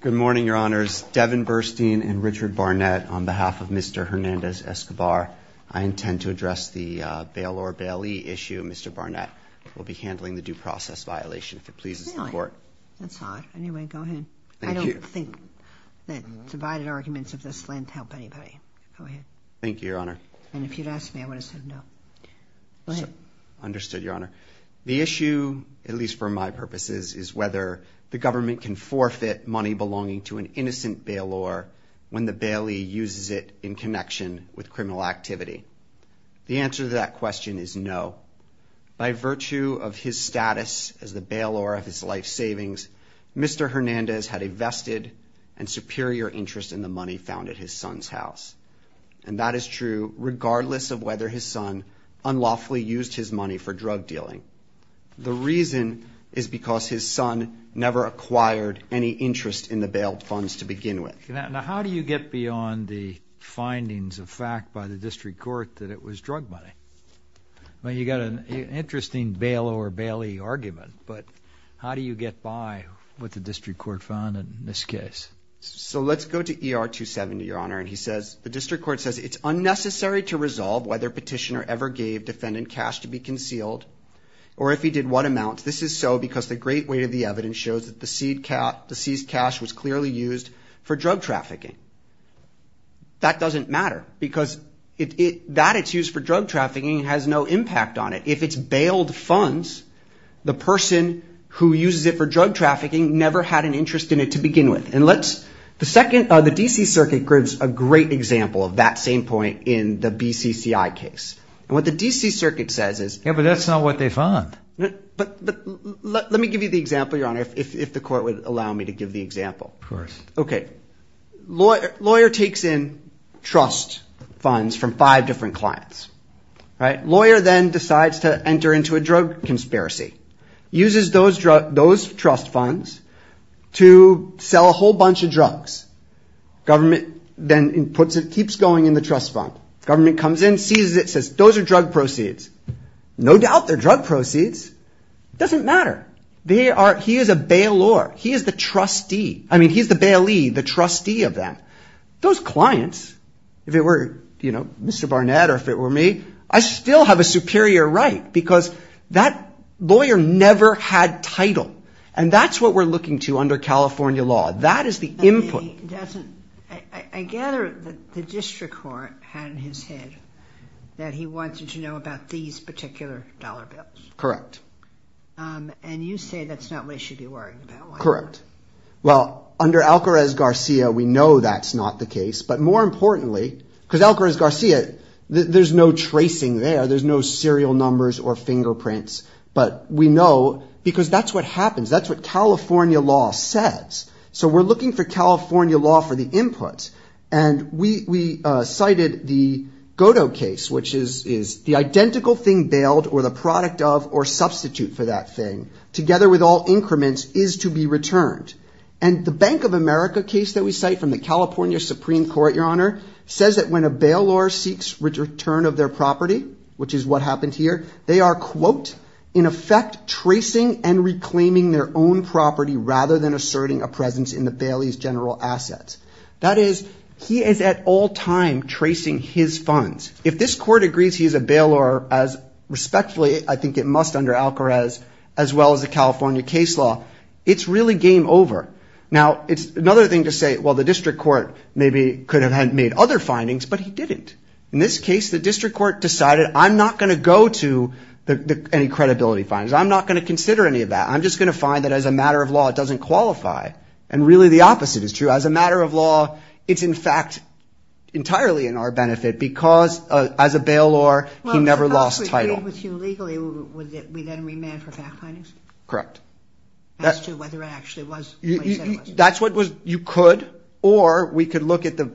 Good morning, Your Honors. Devin Burstein and Richard Barnett on behalf of Mr. Hernandez-Escobar. I intend to address the bail-or-bailee issue. Mr. Barnett will be handling the due process violation, if it pleases the Court. That's odd. Anyway, go ahead. I don't think that divided arguments of this length help anybody. Go ahead. Thank you, Your Honor. And if you'd asked me, I would have said no. Go ahead. Understood, Your Honor. The issue, at least for my purposes, is whether the government can forfeit money belonging to an innocent bail-or when the bailee uses it in connection with criminal activity. The answer to that question is no. By virtue of his status as the bail-or of his life savings, Mr. Hernandez had a vested and superior interest in the money found at his son's house. And that is true regardless of whether his son unlawfully used his money for drug dealing. The reason is because his son never acquired any interest in the bail funds to begin with. Now, how do you get beyond the findings of fact by the district court that it was drug money? You've got an interesting bail-or-bailee argument, but how do you get by with the district court found in this case? So let's go to ER 270, Your Honor, and the district court says it's unnecessary to resolve whether petitioner ever gave defendant cash to be concealed or if he did what amount. This is so because the great weight of the evidence shows that the seized cash was clearly used for drug trafficking. That doesn't matter because that it's used for drug trafficking has no impact on it. If it's bailed funds, the person who uses it for drug trafficking never had an interest in it to begin with. The DC Circuit gives a great example of that same point in the BCCI case. What the DC Circuit says is – Yeah, but that's not what they found. But let me give you the example, Your Honor, if the court would allow me to give the example. Of course. Okay. Lawyer takes in trust funds from five different clients. Lawyer then decides to enter into a drug conspiracy, uses those trust funds to sell a whole bunch of drugs. Government then puts it – keeps going in the trust fund. Government comes in, sees it, says those are drug proceeds. No doubt they're drug proceeds. It doesn't matter. They are – he is a bail-or. He is the trustee. I mean he's the bailee, the trustee of them. Those clients, if it were, you know, Mr. Barnett or if it were me, I still have a superior right because that lawyer never had title. And that's what we're looking to under California law. That is the input. But he doesn't – I gather the district court had in his head that he wanted to know about these particular dollar bills. Correct. And you say that's not what he should be worrying about. Correct. Well, under Alcarez-Garcia, we know that's not the case. But more importantly – because Alcarez-Garcia, there's no tracing there. There's no serial numbers or fingerprints. But we know because that's what happens. That's what California law says. So we're looking for California law for the input. And we cited the Godot case, which is the identical thing bailed or the product of or substitute for that thing, together with all increments, is to be returned. And the Bank of America case that we cite from the California Supreme Court, Your Honor, says that when a bailor seeks return of their property, which is what happened here, they are, quote, in effect tracing and reclaiming their own property rather than asserting a presence in the bailee's general assets. That is, he is at all times tracing his funds. If this court agrees he's a bailor, as respectfully I think it must under Alcarez, as well as the California case law, it's really game over. Now, it's another thing to say, well, the district court maybe could have made other findings, but he didn't. In this case, the district court decided I'm not going to go to any credibility findings. I'm not going to consider any of that. I'm just going to find that as a matter of law, it doesn't qualify. And really the opposite is true. As a matter of law, it's, in fact, entirely in our benefit because as a bailor, he never lost title. Well, if Alcarez agreed with you legally, would we then remand for fact findings? Correct. As to whether it actually was what he said it was. That's what was, you could, or we could look at the,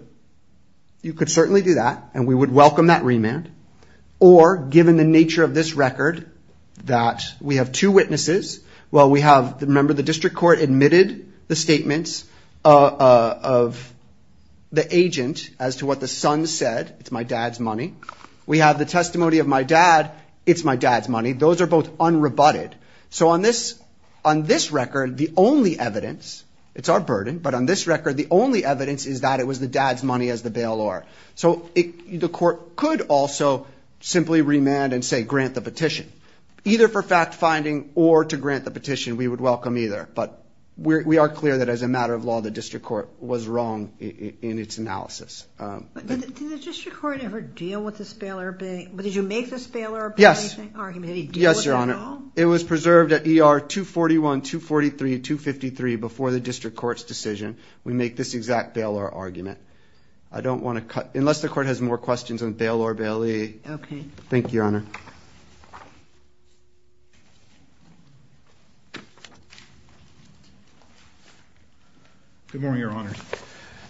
you could certainly do that, and we would welcome that remand. Or given the nature of this record, that we have two witnesses. Well, we have, remember, the district court admitted the statements of the agent as to what the son said, it's my dad's money. We have the testimony of my dad, it's my dad's money. Those are both unrebutted. So on this record, the only evidence, it's our burden, but on this record, the only evidence is that it was the dad's money as the bailor. So the court could also simply remand and say grant the petition. Either for fact finding or to grant the petition, we would welcome either. But we are clear that as a matter of law, the district court was wrong in its analysis. Did the district court ever deal with this bailor, but did you make this bailor argument? Yes. Did he deal with it at all? Yes, Your Honor. It was preserved at ER 241, 243, 253 before the district court's decision. We make this exact bailor argument. I don't want to cut, unless the court has more questions on bailor bailee. Okay. Thank you, Your Honor. Good morning, Your Honor.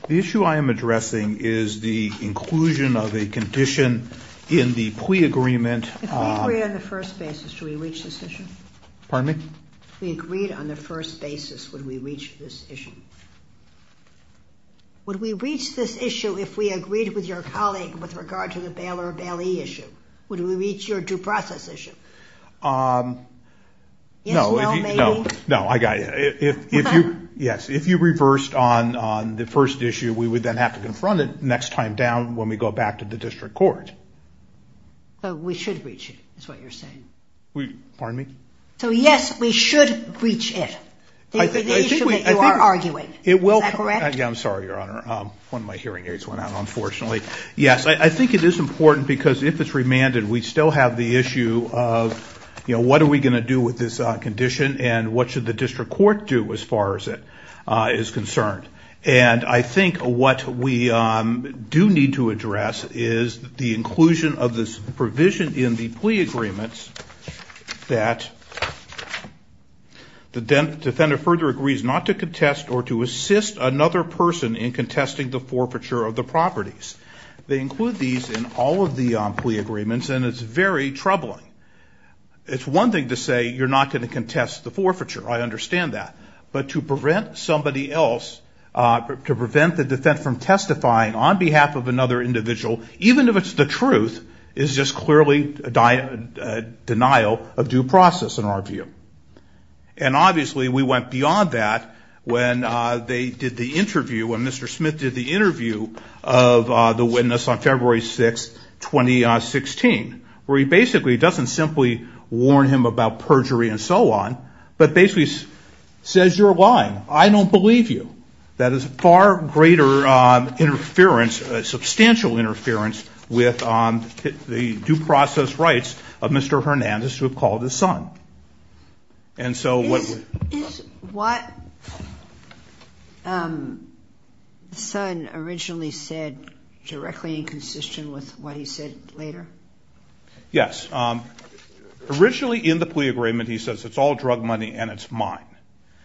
The issue I am addressing is the inclusion of a condition in the plea agreement. If we agreed on the first basis, do we reach this issue? Pardon me? If we agreed on the first basis, would we reach this issue? Would we reach this issue if we agreed with your colleague with regard to the bailor bailee issue? Would we reach your due process issue? No. Yes, if you reversed on the first issue, we would then have to confront it next time down when we go back to the district court. But we should reach it, is what you're saying. Pardon me? So, yes, we should reach it. The issue that you are arguing, is that correct? I'm sorry, Your Honor. One of my hearing aids went out, unfortunately. Yes, I think it is important because if it's remanded, we still have the issue of what are we going to do with this condition and what should the district court do as far as it is concerned. And I think what we do need to address is the inclusion of this provision in the plea agreements that the defendant further agrees not to contest or to assist another person in contesting the forfeiture of the properties. They include these in all of the plea agreements, and it's very troubling. It's one thing to say you're not going to contest the forfeiture. I understand that. But to prevent somebody else, to prevent the defendant from testifying on behalf of another individual, even if it's the truth, is just clearly a denial of due process in our view. And obviously we went beyond that when they did the interview, when Mr. Smith did the interview of the witness on February 6, 2016, where he basically doesn't simply warn him about perjury and so on, but basically says you're lying. I don't believe you. That is far greater interference, substantial interference, with the due process rights of Mr. Hernandez to have called his son. Is what the son originally said directly inconsistent with what he said later? Yes. Originally in the plea agreement he says it's all drug money and it's mine.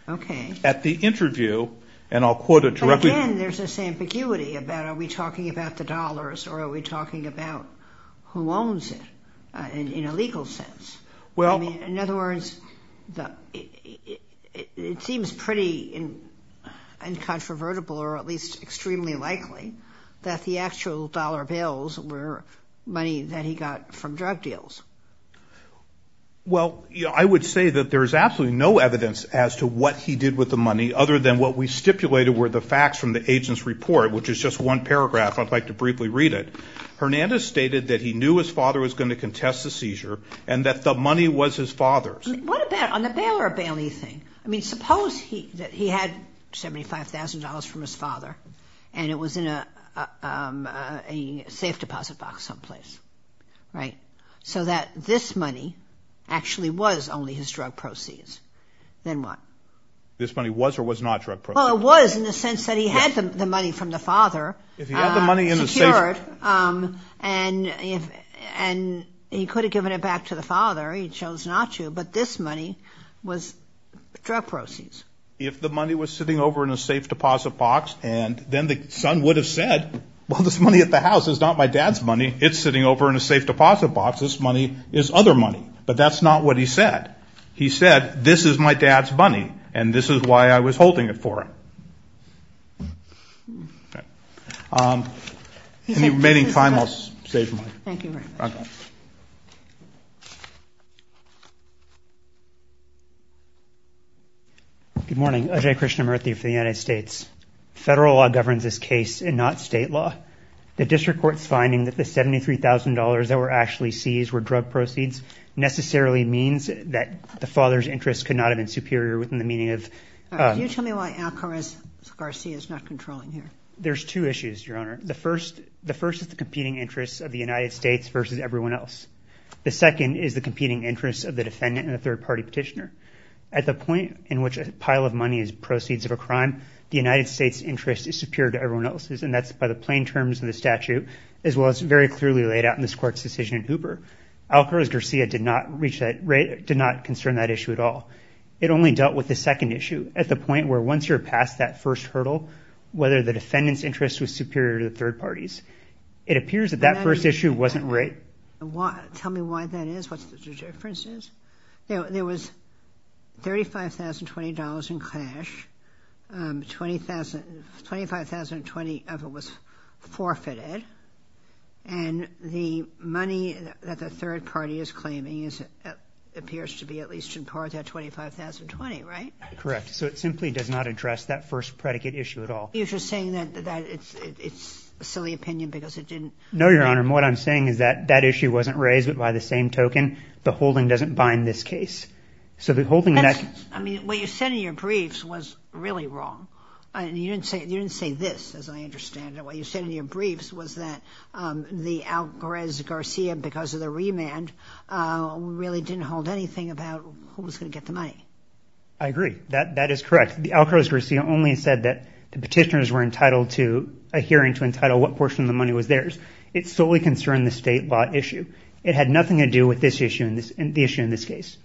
Okay. But at the interview, and I'll quote it directly. Again, there's this ambiguity about are we talking about the dollars or are we talking about who owns it in a legal sense? In other words, it seems pretty incontrovertible or at least extremely likely that the actual dollar bills were money that he got from drug deals. Well, I would say that there is absolutely no evidence as to what he did with the money other than what we stipulated were the facts from the agent's report, which is just one paragraph. I'd like to briefly read it. Hernandez stated that he knew his father was going to contest the seizure and that the money was his father's. What about on the bail or bailee thing? I mean, suppose he had $75,000 from his father and it was in a safe deposit box someplace, right? So that this money actually was only his drug proceeds. Then what? This money was or was not drug proceeds? Well, it was in the sense that he had the money from the father secured and he could have given it back to the father. He chose not to, but this money was drug proceeds. If the money was sitting over in a safe deposit box, then the son would have said, well, this money at the house is not my dad's money. It's sitting over in a safe deposit box. This money is other money. But that's not what he said. He said, this is my dad's money, and this is why I was holding it for him. Any remaining time, I'll save mine. Thank you very much. Good morning. Ajay Krishnamurthy for the United States. Federal law governs this case and not state law. The district court's finding that the $73,000 that were actually seized were drug proceeds necessarily means that the father's interests could not have been superior within the meaning of – Can you tell me why Alcaraz-Garcia is not controlling here? There's two issues, Your Honor. The first is the competing interests of the United States versus everyone else. The second is the competing interests of the defendant and the third-party petitioner. At the point in which a pile of money is proceeds of a crime, the United States' interest is superior to everyone else's, and that's by the plain terms of the statute, as well as very clearly laid out in this court's decision in Hooper. Alcaraz-Garcia did not concern that issue at all. It only dealt with the second issue at the point where once you're past that first hurdle, whether the defendant's interest was superior to the third party's. It appears that that first issue wasn't right. Tell me why that is. What's the difference is? There was $35,020 in cash. $25,020 of it was forfeited. And the money that the third party is claiming appears to be at least in part that $25,020, right? Correct. So it simply does not address that first predicate issue at all. You're just saying that it's a silly opinion because it didn't— No, Your Honor. What I'm saying is that that issue wasn't raised, but by the same token, the holding doesn't bind this case. So the holding— I mean, what you said in your briefs was really wrong. You didn't say this, as I understand it. What you said in your briefs was that the Alcaraz-Garcia, because of the remand, really didn't hold anything about who was going to get the money. I agree. That is correct. The Alcaraz-Garcia only said that the petitioners were entitled to a hearing to entitle what portion of the money was theirs. It solely concerned the state law issue. It had nothing to do with this issue and the issue in this case.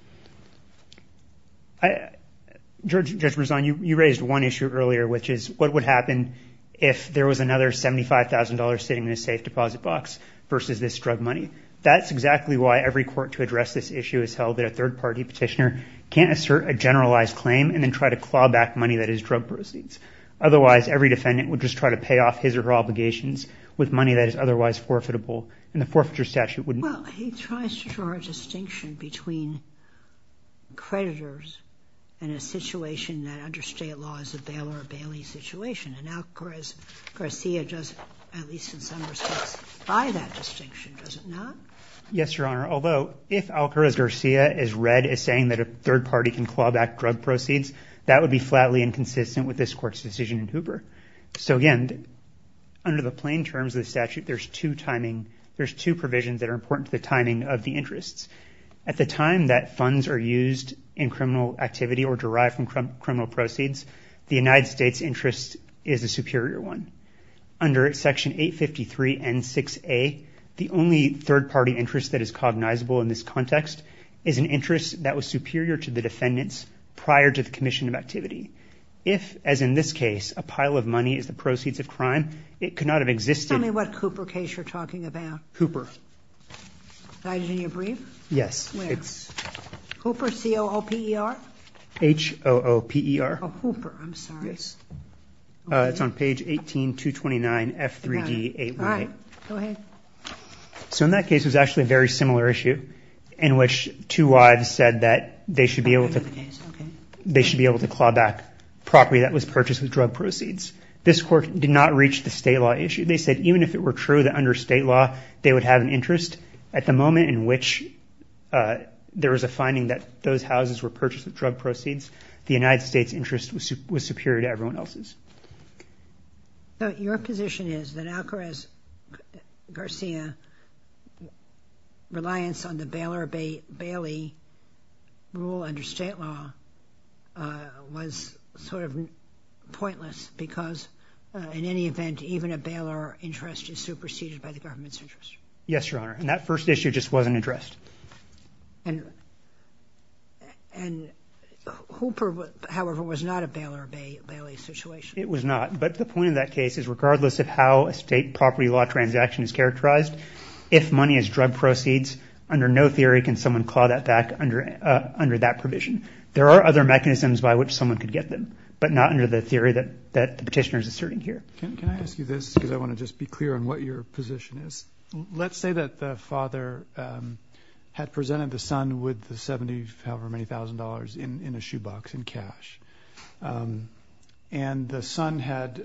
Judge Marzano, you raised one issue earlier, which is what would happen if there was another $75,000 sitting in a safe deposit box versus this drug money. That's exactly why every court to address this issue has held that a third-party petitioner can't assert a generalized claim and then try to claw back money that is drug proceeds. Otherwise, every defendant would just try to pay off his or her obligations with money that is otherwise forfeitable, and the forfeiture statute wouldn't. Well, he tries to draw a distinction between creditors and a situation that under state law is a bail or a bailee situation. And Alcaraz-Garcia does, at least in some respects, buy that distinction, does it not? Yes, Your Honor. Although, if Alcaraz-Garcia is read as saying that a third-party can claw back drug proceeds, So again, under the plain terms of the statute, there's two timing, there's two provisions that are important to the timing of the interests. At the time that funds are used in criminal activity or derived from criminal proceeds, the United States' interest is a superior one. Under Section 853 N6A, the only third-party interest that is cognizable in this context is an interest that was superior to the defendant's prior to the commission of activity. If, as in this case, a pile of money is the proceeds of crime, it could not have existed. Tell me what Cooper case you're talking about. Cooper. Did I get it in your brief? Yes. Where? It's... Cooper, C-O-O-P-E-R? H-O-O-P-E-R. Oh, Cooper, I'm sorry. Yes. It's on page 18, 229, F3D 818. All right. Go ahead. So in that case, it was actually a very similar issue, in which two wives said that they should be able to... I know the case, okay. They should be able to claw back property that was purchased with drug proceeds. This court did not reach the state law issue. They said even if it were true that under state law they would have an interest, at the moment in which there was a finding that those houses were purchased with drug proceeds, the United States' interest was superior to everyone else's. Your position is that Alcarez-Garcia reliance on the Baylor-Bailey rule under state law was sort of pointless because in any event, even a Baylor interest is superseded by the government's interest. Yes, Your Honor, and that first issue just wasn't addressed. And Cooper, however, was not a Baylor-Bailey situation. It was not. But the point of that case is regardless of how a state property law transaction is characterized, if money is drug proceeds, under no theory can someone claw that back under that provision. There are other mechanisms by which someone could get them, but not under the theory that the petitioner is asserting here. Can I ask you this because I want to just be clear on what your position is? Let's say that the father had presented the son with the $70, however many thousand, in a shoebox in cash. And the son had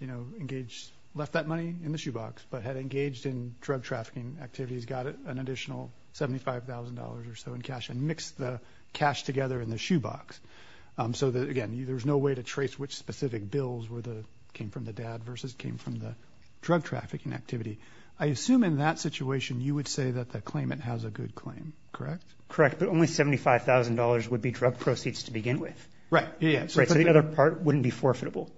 engaged, left that money in the shoebox, but had engaged in drug trafficking activities, got an additional $75,000 or so in cash and mixed the cash together in the shoebox. So, again, there's no way to trace which specific bills came from the dad versus came from the drug trafficking activity. I assume in that situation you would say that the claimant has a good claim, correct? Correct, but only $75,000 would be drug proceeds to begin with. Right. So the other part wouldn't be forfeitable.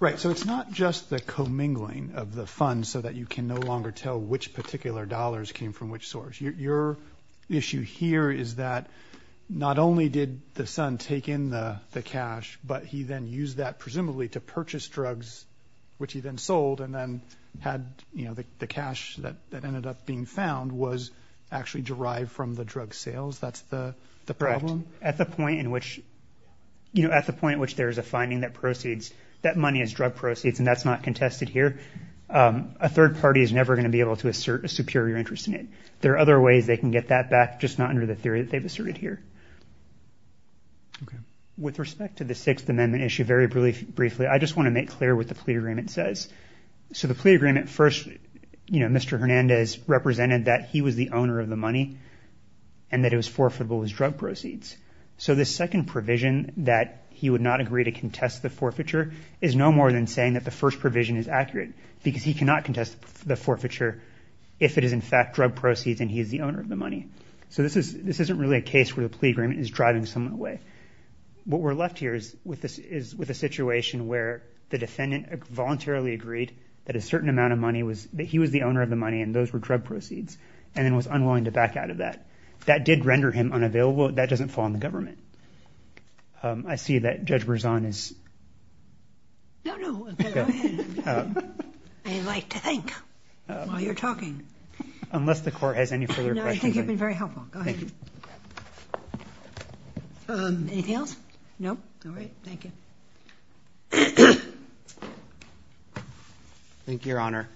Right, so it's not just the commingling of the funds so that you can no longer tell which particular dollars came from which source. Your issue here is that not only did the son take in the cash, but he then used that presumably to purchase drugs, which he then sold, and then had the cash that ended up being found was actually derived from the drug sales. That's the problem? No, at the point in which there is a finding that money is drug proceeds and that's not contested here, a third party is never going to be able to assert a superior interest in it. There are other ways they can get that back, just not under the theory that they've asserted here. With respect to the Sixth Amendment issue, very briefly, I just want to make clear what the plea agreement says. So the plea agreement first, Mr. Hernandez represented that he was the owner of the money and that it was forfeitable as drug proceeds. So this second provision that he would not agree to contest the forfeiture is no more than saying that the first provision is accurate because he cannot contest the forfeiture if it is in fact drug proceeds and he is the owner of the money. So this isn't really a case where the plea agreement is driving someone away. What we're left here is with a situation where the defendant voluntarily agreed that he was the owner of the money and those were drug proceeds and then was unwilling to back out of that. That did render him unavailable. That doesn't fall on the government. I see that Judge Berzon is... No, no, go ahead. I like to think while you're talking. Unless the court has any further questions. No, I think you've been very helpful. Go ahead. Anything else? No? All right. Thank you. Thank you, Your Honor.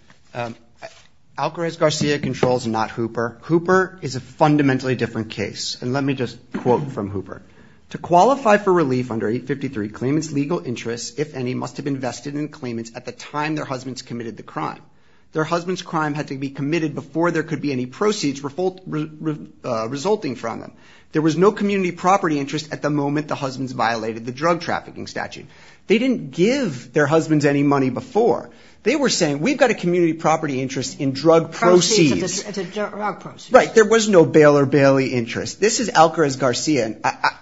Alcarez-Garcia controls, not Hooper. Hooper is a fundamentally different case. And let me just quote from Hooper. To qualify for relief under 853, claimants' legal interests, if any, must have invested in claimants at the time their husbands committed the crime. Their husband's crime had to be committed before there could be any proceeds resulting from them. There was no community property interest at the moment the husbands violated the drug trafficking statute. They didn't give their husbands any money before. They were saying, we've got a community property interest in drug proceeds. Right, there was no Baylor-Bailey interest. This is Alcarez-Garcia.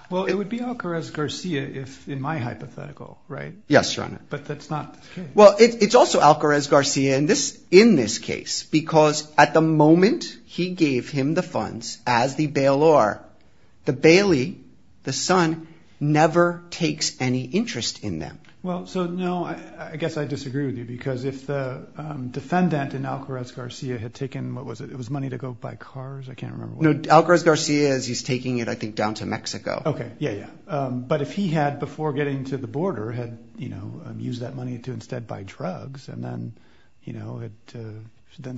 Well, it would be Alcarez-Garcia if in my hypothetical, right? Yes, Your Honor. But that's not the case. Well, it's also Alcarez-Garcia in this case because at the moment he gave him the funds as the Baylor, the Bailey, the son, never takes any interest in them. Well, so no, I guess I disagree with you because if the defendant in Alcarez-Garcia had taken, what was it, it was money to go buy cars, I can't remember. No, Alcarez-Garcia is, he's taking it, I think, down to Mexico. Okay, yeah, yeah. But if he had, before getting to the border, had used that money to instead buy drugs and then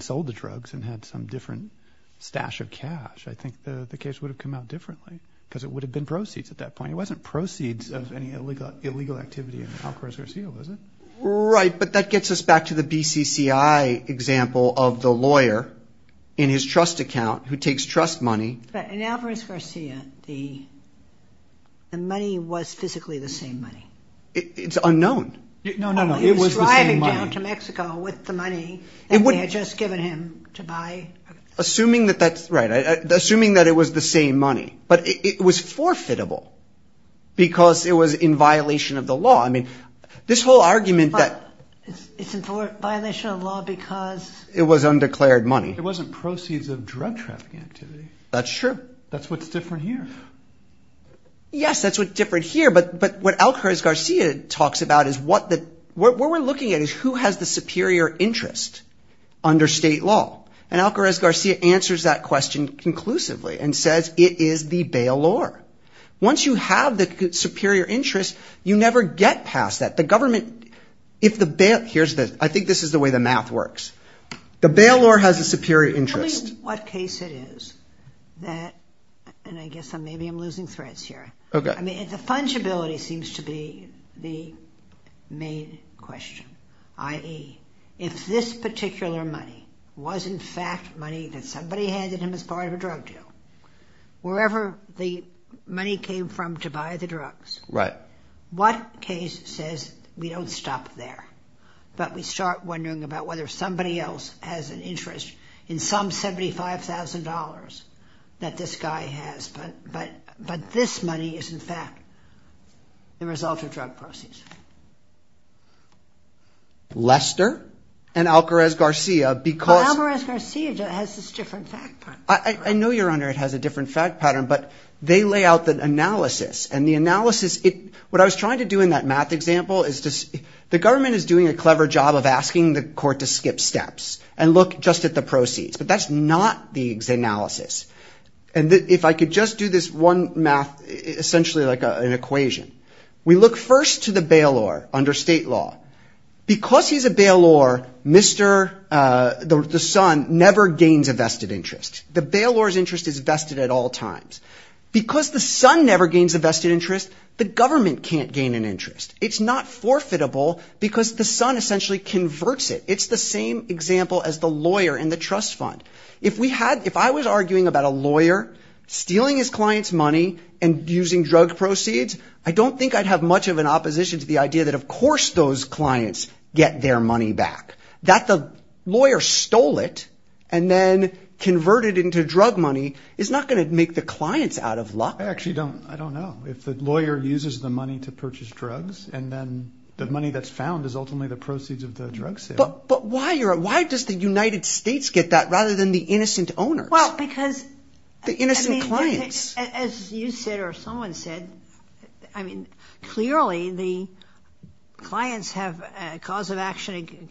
sold the drugs and had some different stash of cash, I think the case would have come out differently because it would have been proceeds at that point. It wasn't proceeds of any illegal activity in Alcarez-Garcia, was it? Right, but that gets us back to the BCCI example of the lawyer in his trust account who takes trust money. But in Alcarez-Garcia, the money was physically the same money. It's unknown. No, no, no, it was the same money. He was driving down to Mexico with the money that they had just given him to buy. Assuming that that's right, assuming that it was the same money, but it was forfeitable because it was in violation of the law. I mean, this whole argument that... It's in violation of the law because... It was undeclared money. It wasn't proceeds of drug trafficking activity. That's true. That's what's different here. Yes, that's what's different here, but what Alcarez-Garcia talks about is what we're looking at is who has the superior interest under state law. And Alcarez-Garcia answers that question conclusively and says it is the bailor. Once you have the superior interest, you never get past that. The government, if the bail... Here's the... I think this is the way the math works. The bailor has a superior interest. Tell me what case it is that... And I guess maybe I'm losing threads here. Okay. I mean, the fungibility seems to be the main question, i.e., if this particular money was, in fact, money that somebody handed him as part of a drug deal, wherever the money came from to buy the drugs, what case says we don't stop there, but we start wondering about whether somebody else has an interest in some $75,000 that this guy has, but this money is, in fact, the result of drug proceeds? Lester and Alcarez-Garcia because... It has this different fact pattern. I know, Your Honor, it has a different fact pattern, but they lay out the analysis, and the analysis... What I was trying to do in that math example is just... The government is doing a clever job of asking the court to skip steps and look just at the proceeds, but that's not the analysis. And if I could just do this one math, essentially like an equation. We look first to the bailor under state law. Because he's a bailor, the son never gains a vested interest. The bailor's interest is vested at all times. Because the son never gains a vested interest, the government can't gain an interest. It's not forfeitable because the son essentially converts it. It's the same example as the lawyer in the trust fund. If I was arguing about a lawyer stealing his client's money and using drug proceeds, I don't think I'd have much of an opposition to the idea that of course those clients get their money back. That the lawyer stole it and then converted it into drug money is not going to make the clients out of luck. I actually don't know. If the lawyer uses the money to purchase drugs, and then the money that's found is ultimately the proceeds of the drug sale... But why does the United States get that rather than the innocent owners? Well, because... The innocent clients. As you said or someone said, clearly the clients have a cause of action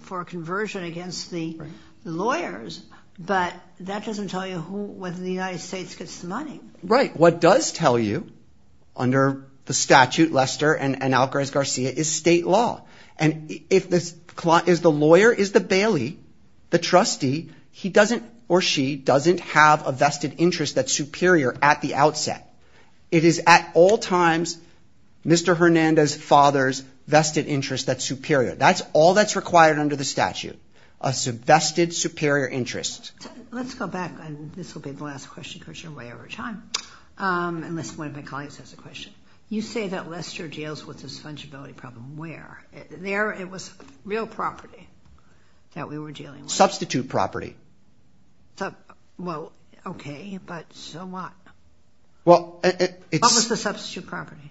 for a conversion against the lawyers, but that doesn't tell you whether the United States gets the money. Right. What does tell you, under the statute, Lester and Algares-Garcia, is state law. And if the lawyer is the bailee, the trustee, he doesn't or she doesn't have a vested interest that's superior at the outset. It is at all times Mr. Hernandez's father's vested interest that's superior. That's all that's required under the statute. A vested superior interest. Let's go back. This will be the last question because you're way over time. Unless one of my colleagues has a question. You say that Lester deals with this fungibility problem where? There it was real property that we were dealing with. Substitute property. Well, okay, but so what? What was the substitute property?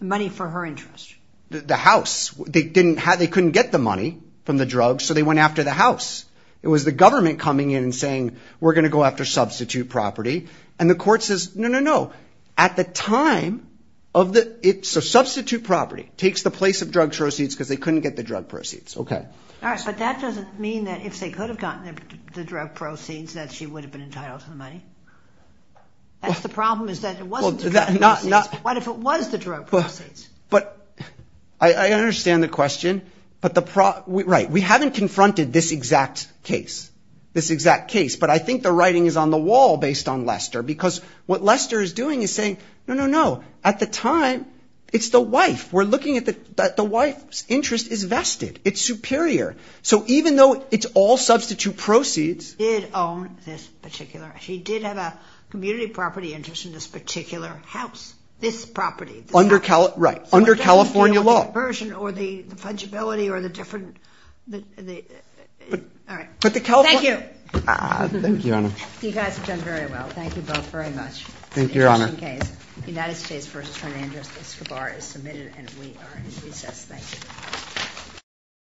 Money for her interest. The house. They couldn't get the money from the drugs, so they went after the house. It was the government coming in and saying, we're going to go after substitute property. And the court says, no, no, no. At the time of the... So substitute property takes the place of drug proceeds because they couldn't get the drug proceeds. Okay. But that doesn't mean that if they could have gotten the drug proceeds, that she would have been entitled to the money. That's the problem is that it wasn't the drug proceeds. What if it was the drug proceeds? But I understand the question. But the... Right. We haven't confronted this exact case. This exact case. But I think the writing is on the wall based on Lester because what Lester is doing is saying, no, no, no. At the time, it's the wife. We're looking at the wife's interest is vested. It's superior. So even though it's all substitute proceeds... She did own this particular... She did have a community property interest in this particular house. This property. Right. Under California law. Or the fungibility or the different... All right. Thank you. Thank you, Your Honor. You guys have done very well. Thank you both very much. Thank you, Your Honor. The United States v. Fernandez-Escobar is submitted and we are in recess. Thank you. Thank you. Thank you. Thank you.